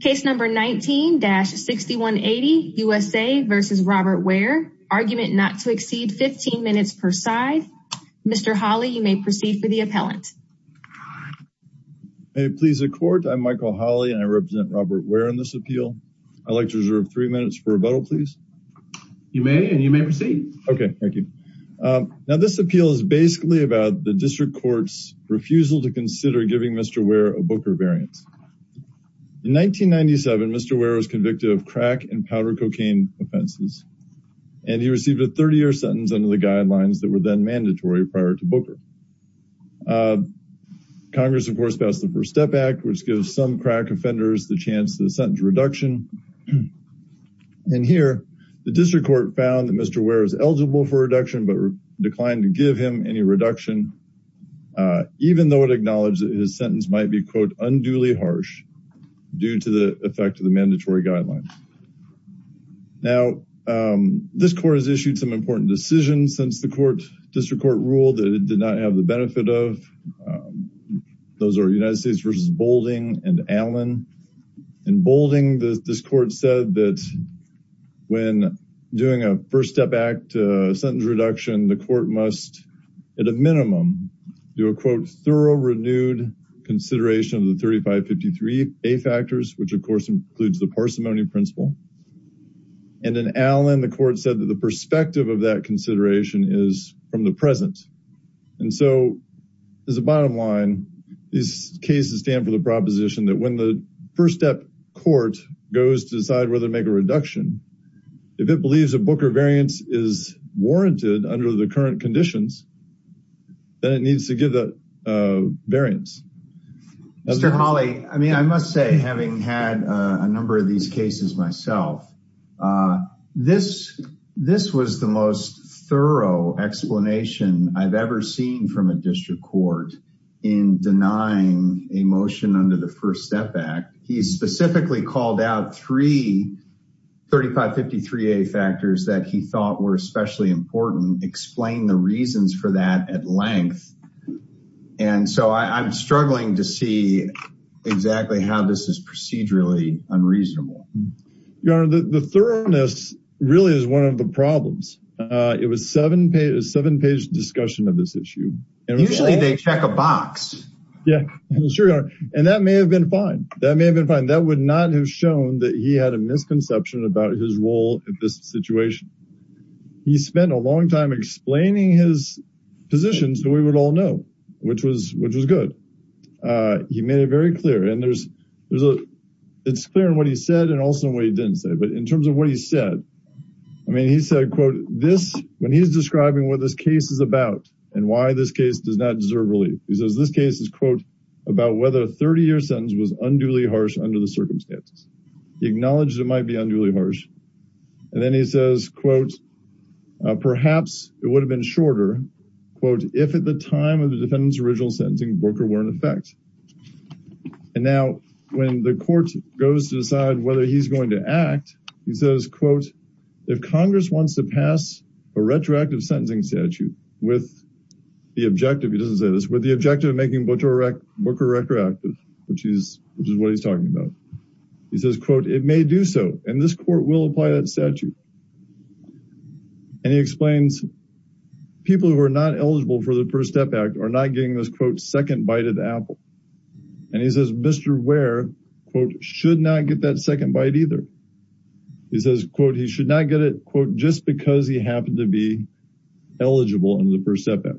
Case number 19-6180, USA v. Robert Ware. Argument not to exceed 15 minutes per side. Mr. Hawley, you may proceed for the appellant. May it please the Court, I'm Michael Hawley and I represent Robert Ware in this appeal. I'd like to reserve three minutes for rebuttal, please. You may, and you may proceed. Okay, thank you. Now this appeal is basically about the District Court's refusal to consider giving Mr. Ware a Booker variant. In 1997, Mr. Ware was convicted of crack and powder cocaine offenses, and he received a 30-year sentence under the guidelines that were then mandatory prior to Booker. Congress, of course, passed the First Step Act, which gives some crack offenders the chance to sentence reduction. And here, the District Court found that Mr. Ware is eligible for reduction, but declined to give him any reduction, even though it acknowledged that his sentence might be, quote, unduly harsh due to the effect of the mandatory guidelines. Now, this Court has issued some important decisions since the District Court ruled that it did not have the benefit of. Those are United States v. Boulding and Allen. In Boulding, this Court said that when doing a First Step Act sentence reduction, the Court must, at a minimum, do a, quote, thorough, renewed consideration of the 3553A factors, which, of course, includes the parsimony principle. And in Allen, the Court said that the perspective of that consideration is from the present. And so, as a bottom line, these cases stand for the proposition that when the First Step Court goes to decide whether to make a reduction, if it believes a Booker variance is warranted under the current conditions, then it needs to give that variance. Mr. Hawley, I mean, I must say, having had a number of these cases myself, this was the most thorough explanation I've ever seen from a District Court in denying a motion under the First Step Act. He specifically called out three 3553A factors that he thought were especially important, and so I'm struggling to see exactly how this is procedurally unreasonable. Your Honor, the thoroughness really is one of the problems. It was a seven-page discussion of this issue. Usually they check a box. Yeah, sure, Your Honor, and that may have been fine. That may have been fine. That would not have shown that he had a misconception about his role in this situation. He spent a long time explaining his position so we would all know, which was good. He made it very clear, and it's clear in what he said and also in what he didn't say, but in terms of what he said, I mean, he said, quote, when he's describing what this case is about and why this case does not deserve relief, he says this case is, quote, about whether a 30-year sentence was unduly harsh under the circumstances. He acknowledged it might be unduly harsh. And then he says, quote, perhaps it would have been shorter, quote, if at the time of the defendant's original sentencing, Booker were in effect. And now when the court goes to decide whether he's going to act, he says, quote, if Congress wants to pass a retroactive sentencing statute with the objective, he doesn't say this, with the objective of making Booker retroactive, which is what he's talking about, he says, quote, it may do so, and this court will apply that statute. And he explains people who are not eligible for the FIRST STEP Act are not getting this, quote, second bite at the apple. And he says Mr. Ware, quote, should not get that second bite either. He says, quote, he should not get it, quote, just because he happened to be eligible under the FIRST STEP Act.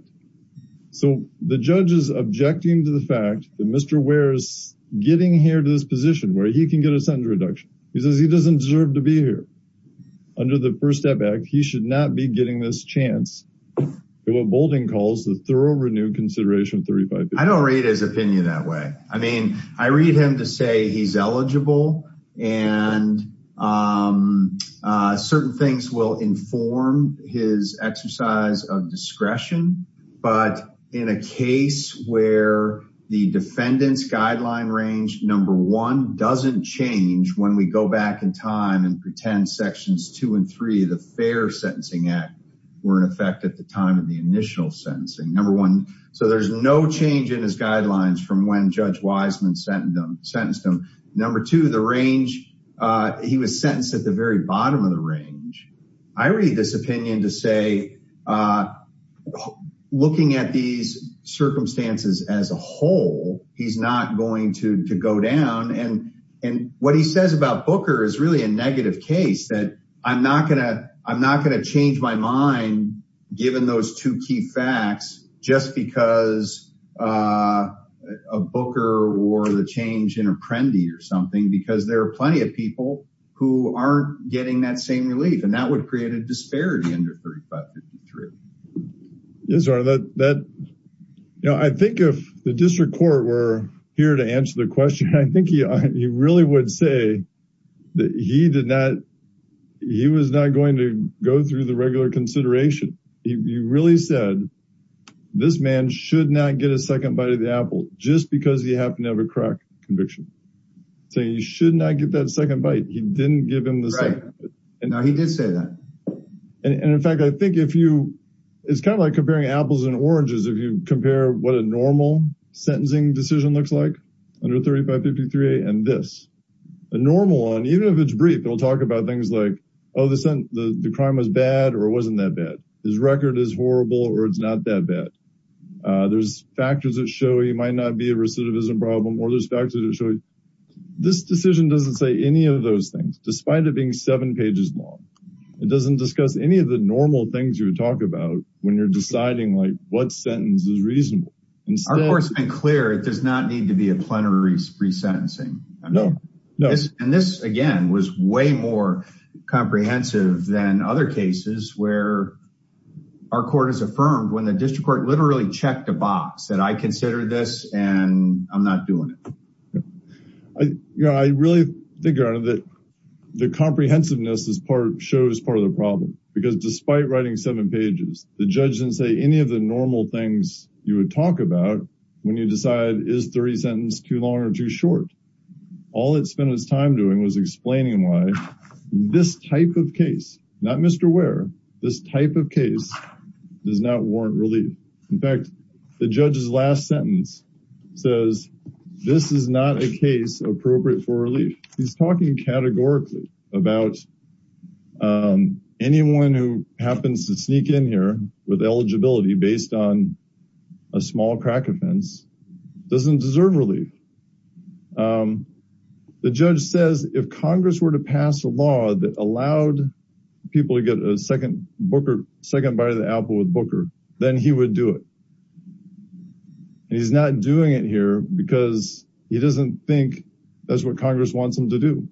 So the judge is objecting to the fact that Mr. Ware is getting here to this position where he can get a sentence reduction. He says he doesn't deserve to be here. Under the FIRST STEP Act, he should not be getting this chance. What Boulding calls the thorough renewed consideration of 35 days. I don't read his opinion that way. I mean, I read him to say he's eligible and certain things will inform his exercise of discretion. But in a case where the defendant's guideline range, number one, doesn't change when we go back in time and pretend sections two and three of the Fair Sentencing Act were in effect at the time of the initial sentencing. Number one, so there's no change in his guidelines from when Judge Wiseman sentenced him. Number two, the range, he was sentenced at the very bottom of the range. I read this opinion to say, looking at these circumstances as a whole, he's not going to go down. And what he says about Booker is really a negative case that I'm not going to change my mind, given those two key facts, just because of Booker or the change in Apprendi or something. Because there are plenty of people who aren't getting that same relief. And that would create a disparity under 35-53. I think if the district court were here to answer the question, I think he really would say that he was not going to go through the regular consideration. He really said this man should not get a second bite of the apple just because he happened to have a crack conviction. So you should not get that second bite. He didn't give him the second bite. Right. No, he did say that. And in fact, I think if you, it's kind of like comparing apples and oranges, if you compare what a normal sentencing decision looks like under 35-53 and this. A normal one, even if it's brief, it'll talk about things like, oh, the crime was bad or it wasn't that bad. His record is horrible or it's not that bad. There's factors that show he might not be a recidivism problem or there's factors that show. This decision doesn't say any of those things, despite it being seven pages long. It doesn't discuss any of the normal things you would talk about when you're deciding what sentence is reasonable. Our court has been clear. It does not need to be a plenary resentencing. No, no. And this, again, was way more comprehensive than other cases where our court has affirmed when the district court literally checked a box that I consider this and I'm not doing it. I really think that the comprehensiveness is part shows part of the problem because despite writing seven pages, the judge didn't say any of the normal things you would talk about when you decide is 30 sentence too long or too short. All it spent its time doing was explaining why this type of case, not Mr. Where this type of case does not warrant relief. In fact, the judge's last sentence says this is not a case appropriate for relief. He's talking categorically about anyone who happens to sneak in here with eligibility based on a small crack offense doesn't deserve relief. The judge says if Congress were to pass a law that allowed people to get a second Booker second by the Apple with Booker, then he would do it. He's not doing it here because he doesn't think that's what Congress wants him to do.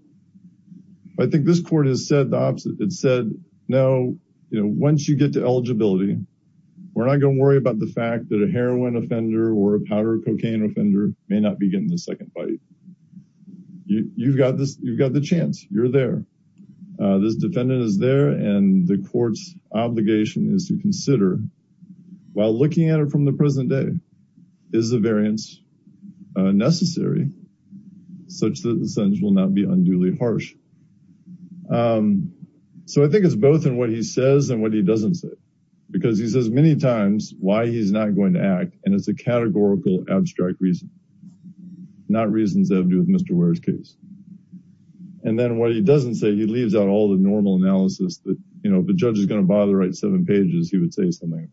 I think this court has said the opposite. It said, No, once you get to eligibility, we're not going to worry about the fact that a heroin offender or a powder cocaine offender may not be getting the second bite. You've got this. You've got the chance. You're there. This defendant is there, and the court's obligation is to consider, while looking at it from the present day, is the variance necessary, such that the sentence will not be unduly harsh. So I think it's both in what he says and what he doesn't say, because he says many times why he's not going to act, and it's a categorical abstract reason. Not reasons that have to do with Mr. Ware's case. And then what he doesn't say, he leaves out all the normal analysis that, you know, if the judge is going to bother writing seven pages, he would say something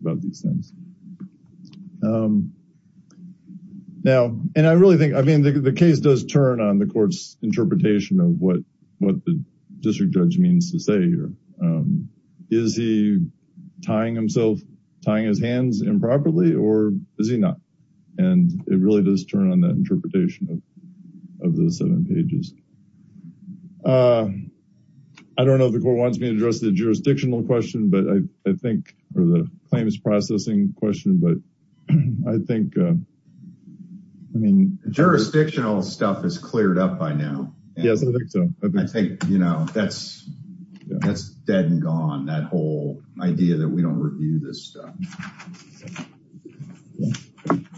about these things. Now, and I really think, I mean, the case does turn on the court's interpretation of what the district judge means to say here. Is he tying himself, tying his hands improperly, or is he not? And it really does turn on that interpretation of the seven pages. I don't know if the court wants me to address the jurisdictional question, but I think, or the claims processing question, but I think, I mean. Jurisdictional stuff is cleared up by now. Yes, I think so. I think, you know, that's dead and gone, that whole idea that we don't review this stuff.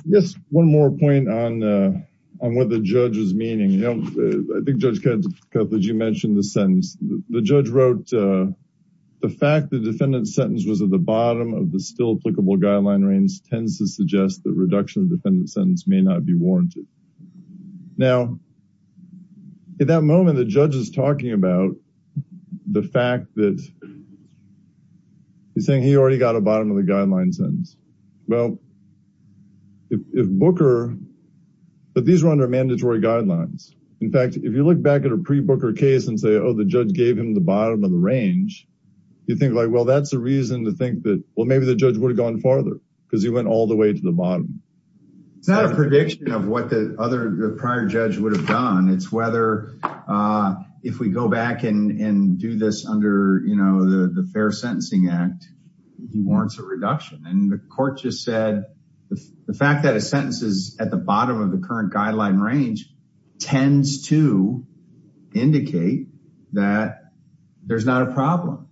Yes, one more point on what the judge is meaning. You know, I think Judge Cutler, you mentioned the sentence. The judge wrote, the fact the defendant's sentence was at the bottom of the still applicable guideline range tends to suggest that reduction of the defendant's sentence may not be warranted. Now, at that moment, the judge is talking about the fact that he's saying he already got a bottom of the guideline sentence. Well, if Booker, but these are under mandatory guidelines. In fact, if you look back at a pre-Booker case and say, oh, the judge gave him the bottom of the range, you think like, well, that's a reason to think that, well, maybe the judge would have gone farther because he went all the way to the bottom. It's not a prediction of what the other prior judge would have done. It's whether if we go back and do this under, you know, the Fair Sentencing Act, he warrants a reduction. And the court just said the fact that a sentence is at the bottom of the current guideline range tends to indicate that there's not a problem.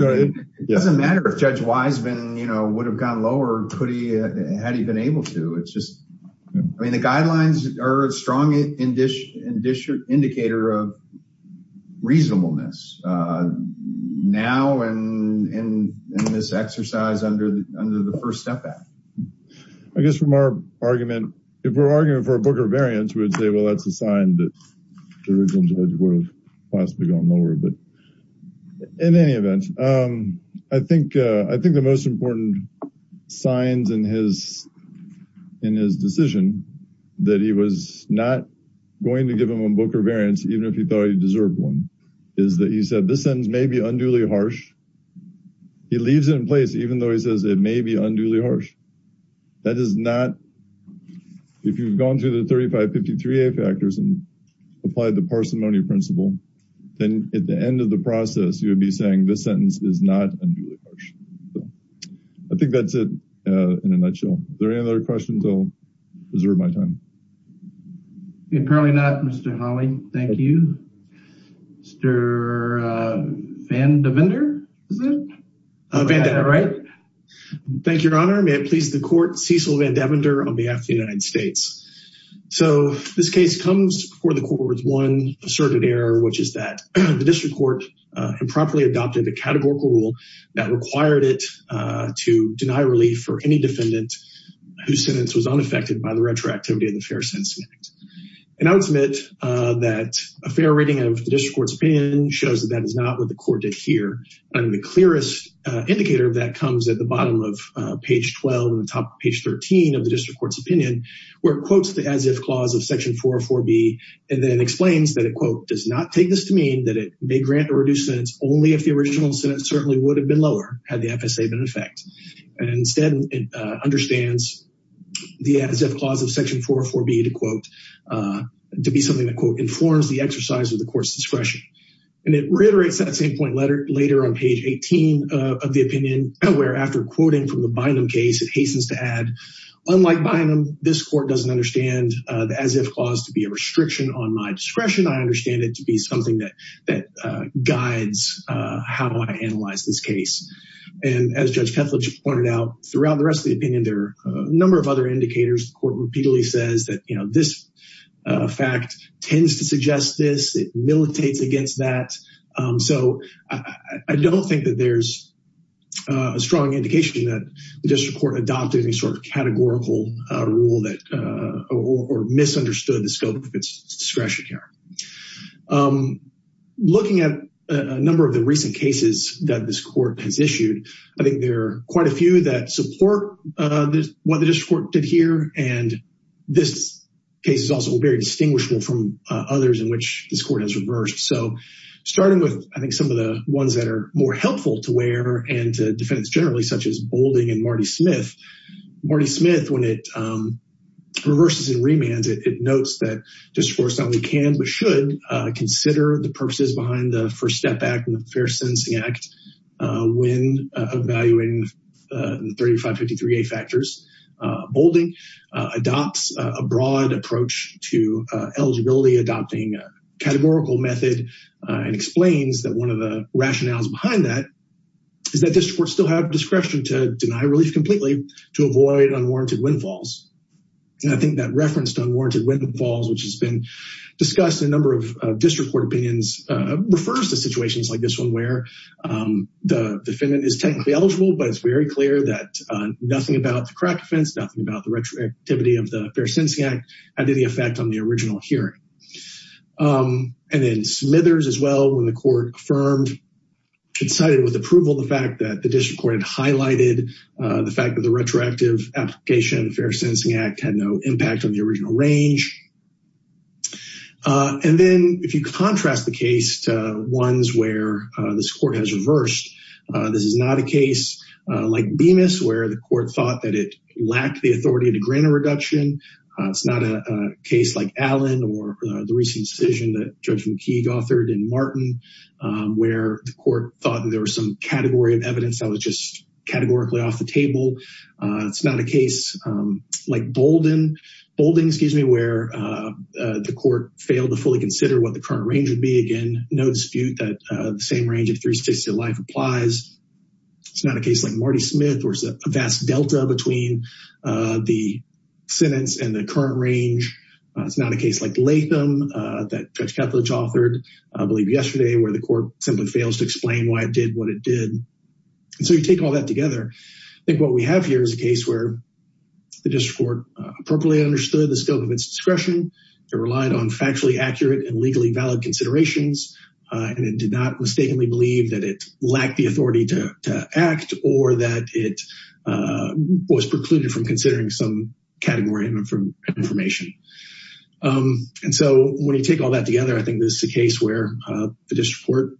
It doesn't matter if Judge Wiseman, you know, would have gone lower, had he been able to. I mean, the guidelines are a strong indicator of reasonableness now and in this exercise under the First Step Act. I guess from our argument, if we're arguing for a Booker variance, we would say, well, that's a sign that the original judge would have possibly gone lower. In any event, I think the most important signs in his decision that he was not going to give him a Booker variance, even if he thought he deserved one, is that he said this sentence may be unduly harsh. He leaves it in place even though he says it may be unduly harsh. That is not, if you've gone through the 3553A factors and applied the parsimony principle, then at the end of the process, you would be saying this sentence is not unduly harsh. I think that's it in a nutshell. Is there any other questions? I'll reserve my time. Apparently not, Mr. Hawley. Thank you. Mr. Van Devender, is it? Van Devender. Thank you, Your Honor. May it please the court, Cecil Van Devender on behalf of the United States. This case comes before the court with one asserted error, which is that the district court improperly adopted a categorical rule that required it to deny relief for any defendant whose sentence was unaffected by the retroactivity of the Fair Sentence Act. And I would submit that a fair reading of the district court's opinion shows that that is not what the court did here. And the clearest indicator of that comes at the bottom of page 12 and the top of page 13 of the district court's opinion, where it quotes the as-if clause of section 404B and then explains that it, quote, does not take this to mean that it may grant a reduced sentence only if the original sentence certainly would have been lower had the FSA been in effect. And instead, it understands the as-if clause of section 404B to quote, to be something that, quote, informs the exercise of the court's discretion. And it reiterates that same point later on page 18 of the opinion, where after quoting from the Bynum case, it hastens to add, unlike Bynum, this court doesn't understand the as-if clause to be a restriction on my discretion. I understand it to be something that guides how I analyze this case. And as Judge Kethledge pointed out, throughout the rest of the opinion, there are a number of other indicators. The court repeatedly says that, you know, this fact tends to suggest this. It militates against that. So I don't think that there's a strong indication that the district court adopted any sort of categorical rule or misunderstood the scope of its discretion here. Looking at a number of the recent cases that this court has issued, I think there are quite a few that support what the district court did here. And this case is also very distinguishable from others in which this court has reversed. So starting with, I think, some of the ones that are more helpful to wear and to defendants generally, such as Boulding and Marty Smith. Marty Smith, when it reverses and remands, it notes that district courts not only can but should consider the purposes behind the First Step Act and the Fair Sentencing Act when evaluating the 3553A factors. Boulding adopts a broad approach to eligibility adopting a categorical method and explains that one of the rationales behind that is that district courts still have discretion to deny relief completely to avoid unwarranted windfalls. And I think that reference to unwarranted windfalls, which has been discussed in a number of district court opinions, refers to situations like this one where the defendant is technically eligible, but it's very clear that nothing about the crack offense, nothing about the retroactivity of the Fair Sentencing Act had any effect on the original hearing. And then Smithers as well, when the court affirmed and cited with approval the fact that the district court had highlighted the fact that the retroactive application of the Fair Sentencing Act had no impact on the original range. And then if you contrast the case to ones where this court has reversed, this is not a case like Bemis, where the court thought that it lacked the authority to grant a reduction. It's not a case like Allen or the recent decision that Judge McKeague authored in Martin, where the court thought there was some category of evidence that was just categorically off the table. It's not a case like Boulding, where the court failed to fully consider what the current range would be. Again, no dispute that the same range of three states to life applies. It's not a case like Marty Smith, where there's a vast delta between the sentence and the current range. It's not a case like Latham that Judge Ketledge authored, I believe yesterday, where the court simply fails to explain why it did what it did. So you take all that together, I think what we have here is a case where the district court appropriately understood the scope of its discretion. It relied on factually accurate and legally valid considerations, and it did not mistakenly believe that it lacked the authority to act or that it was precluded from considering some category of information. And so when you take all that together, I think this is a case where the district court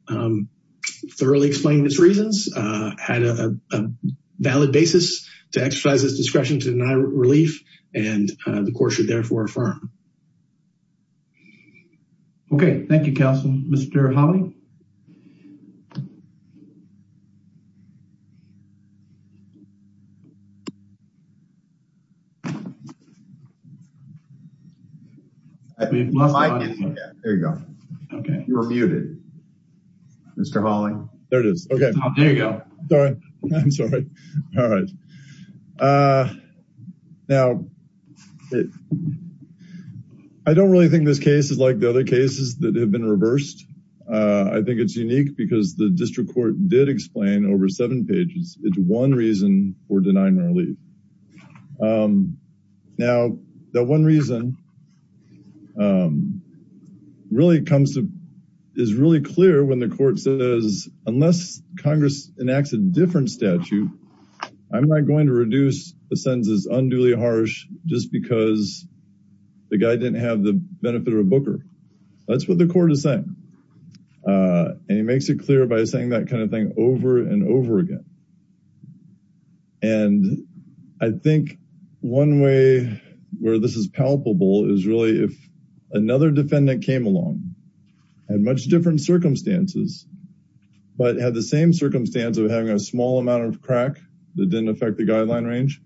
thoroughly explained its reasons, had a valid basis to exercise its discretion to deny relief, and the court should therefore affirm. Okay, thank you, Counselor. Mr. Hawley? My mic didn't work. There you go. You were muted. Mr. Hawley? There it is. Okay. There you go. Sorry. I'm sorry. All right. Now, I don't really think this case is like the other cases that have been reversed. I think it's unique because the district court did explain over seven pages into one reason for denying relief. Now, that one reason is really clear when the court says, unless Congress enacts a different statute, I'm not going to reduce the sentence as unduly harsh just because the guy didn't have the benefit of a booker. That's what the court is saying, and it makes it clear by saying that kind of thing over and over again. And I think one way where this is palpable is really if another defendant came along, had much different circumstances, but had the same circumstance of having a small amount of crack that didn't affect the guideline range,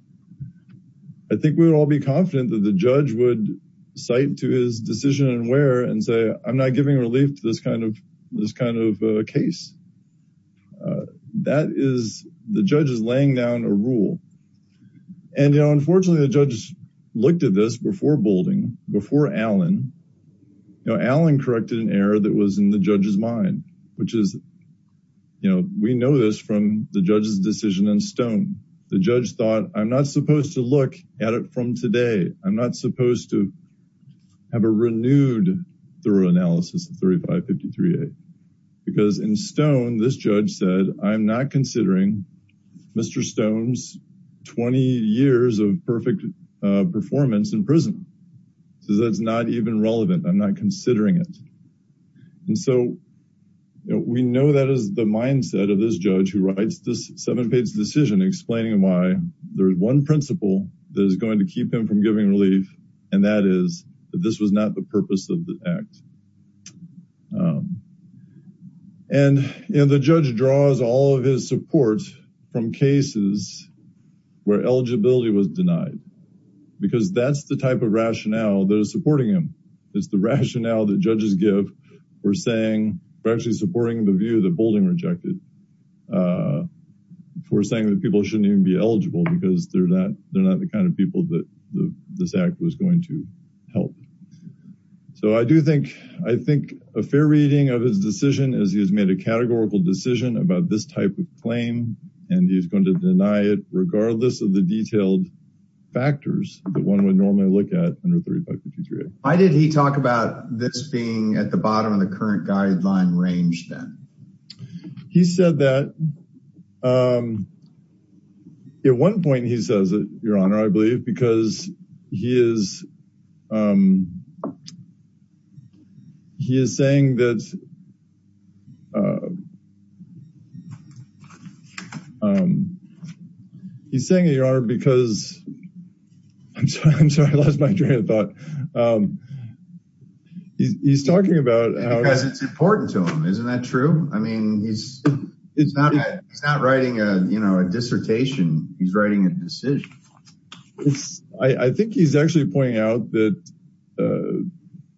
I think we would all be confident that the judge would cite to his decision and where and say, I'm not giving relief to this kind of case. That is the judge's laying down a rule. And, you know, unfortunately, the judge looked at this before bolding before Alan. You know, Alan corrected an error that was in the judge's mind, which is, you know, we know this from the judge's decision in stone. The judge thought, I'm not supposed to look at it from today. I'm not supposed to have a renewed thorough analysis. Because in stone, this judge said, I'm not considering Mr. Stone's 20 years of perfect performance in prison. So that's not even relevant. I'm not considering it. And so we know that is the mindset of this judge who writes this seven page decision explaining why there is one principle that is going to keep him from giving relief. And that is that this was not the purpose of the act. And the judge draws all of his support from cases where eligibility was denied, because that's the type of rationale that is supporting him. It's the rationale that judges give. We're saying we're actually supporting the view that bolding rejected. We're saying that people shouldn't even be eligible because they're not they're not the kind of people that this act was going to help. So I do think I think a fair reading of his decision is he has made a categorical decision about this type of claim. And he's going to deny it regardless of the detailed factors that one would normally look at under 3553. Why did he talk about this being at the bottom of the current guideline range? He said that. At one point, he says, Your Honor, I believe, because he is. He is saying that. He's saying they are because. I'm sorry, I lost my train of thought. He's talking about. Because it's important to him, isn't that true? I mean, he's not he's not writing a, you know, a dissertation. He's writing a decision. I think he's actually pointing out that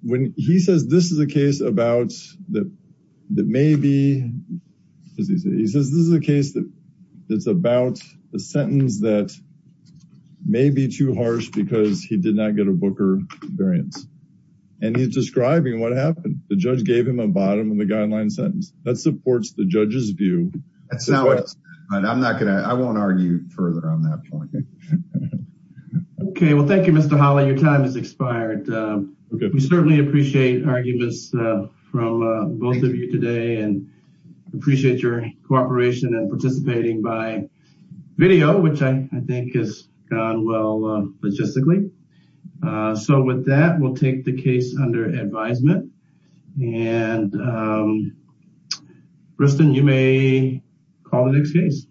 when he says this is a case about that, that maybe he says this is a case that it's about a sentence that may be too harsh because he did not get a Booker variance. And he's describing what happened. The judge gave him a bottom of the guideline sentence that supports the judge's view. That's not what I'm not going to. I won't argue further on that point. OK, well, thank you, Mr. Holly. Your time is expired. We certainly appreciate arguments from both of you today and appreciate your cooperation and participating by video, which I think has gone well logistically. So with that, we'll take the case under advisement. And. Kristen, you may call the next case.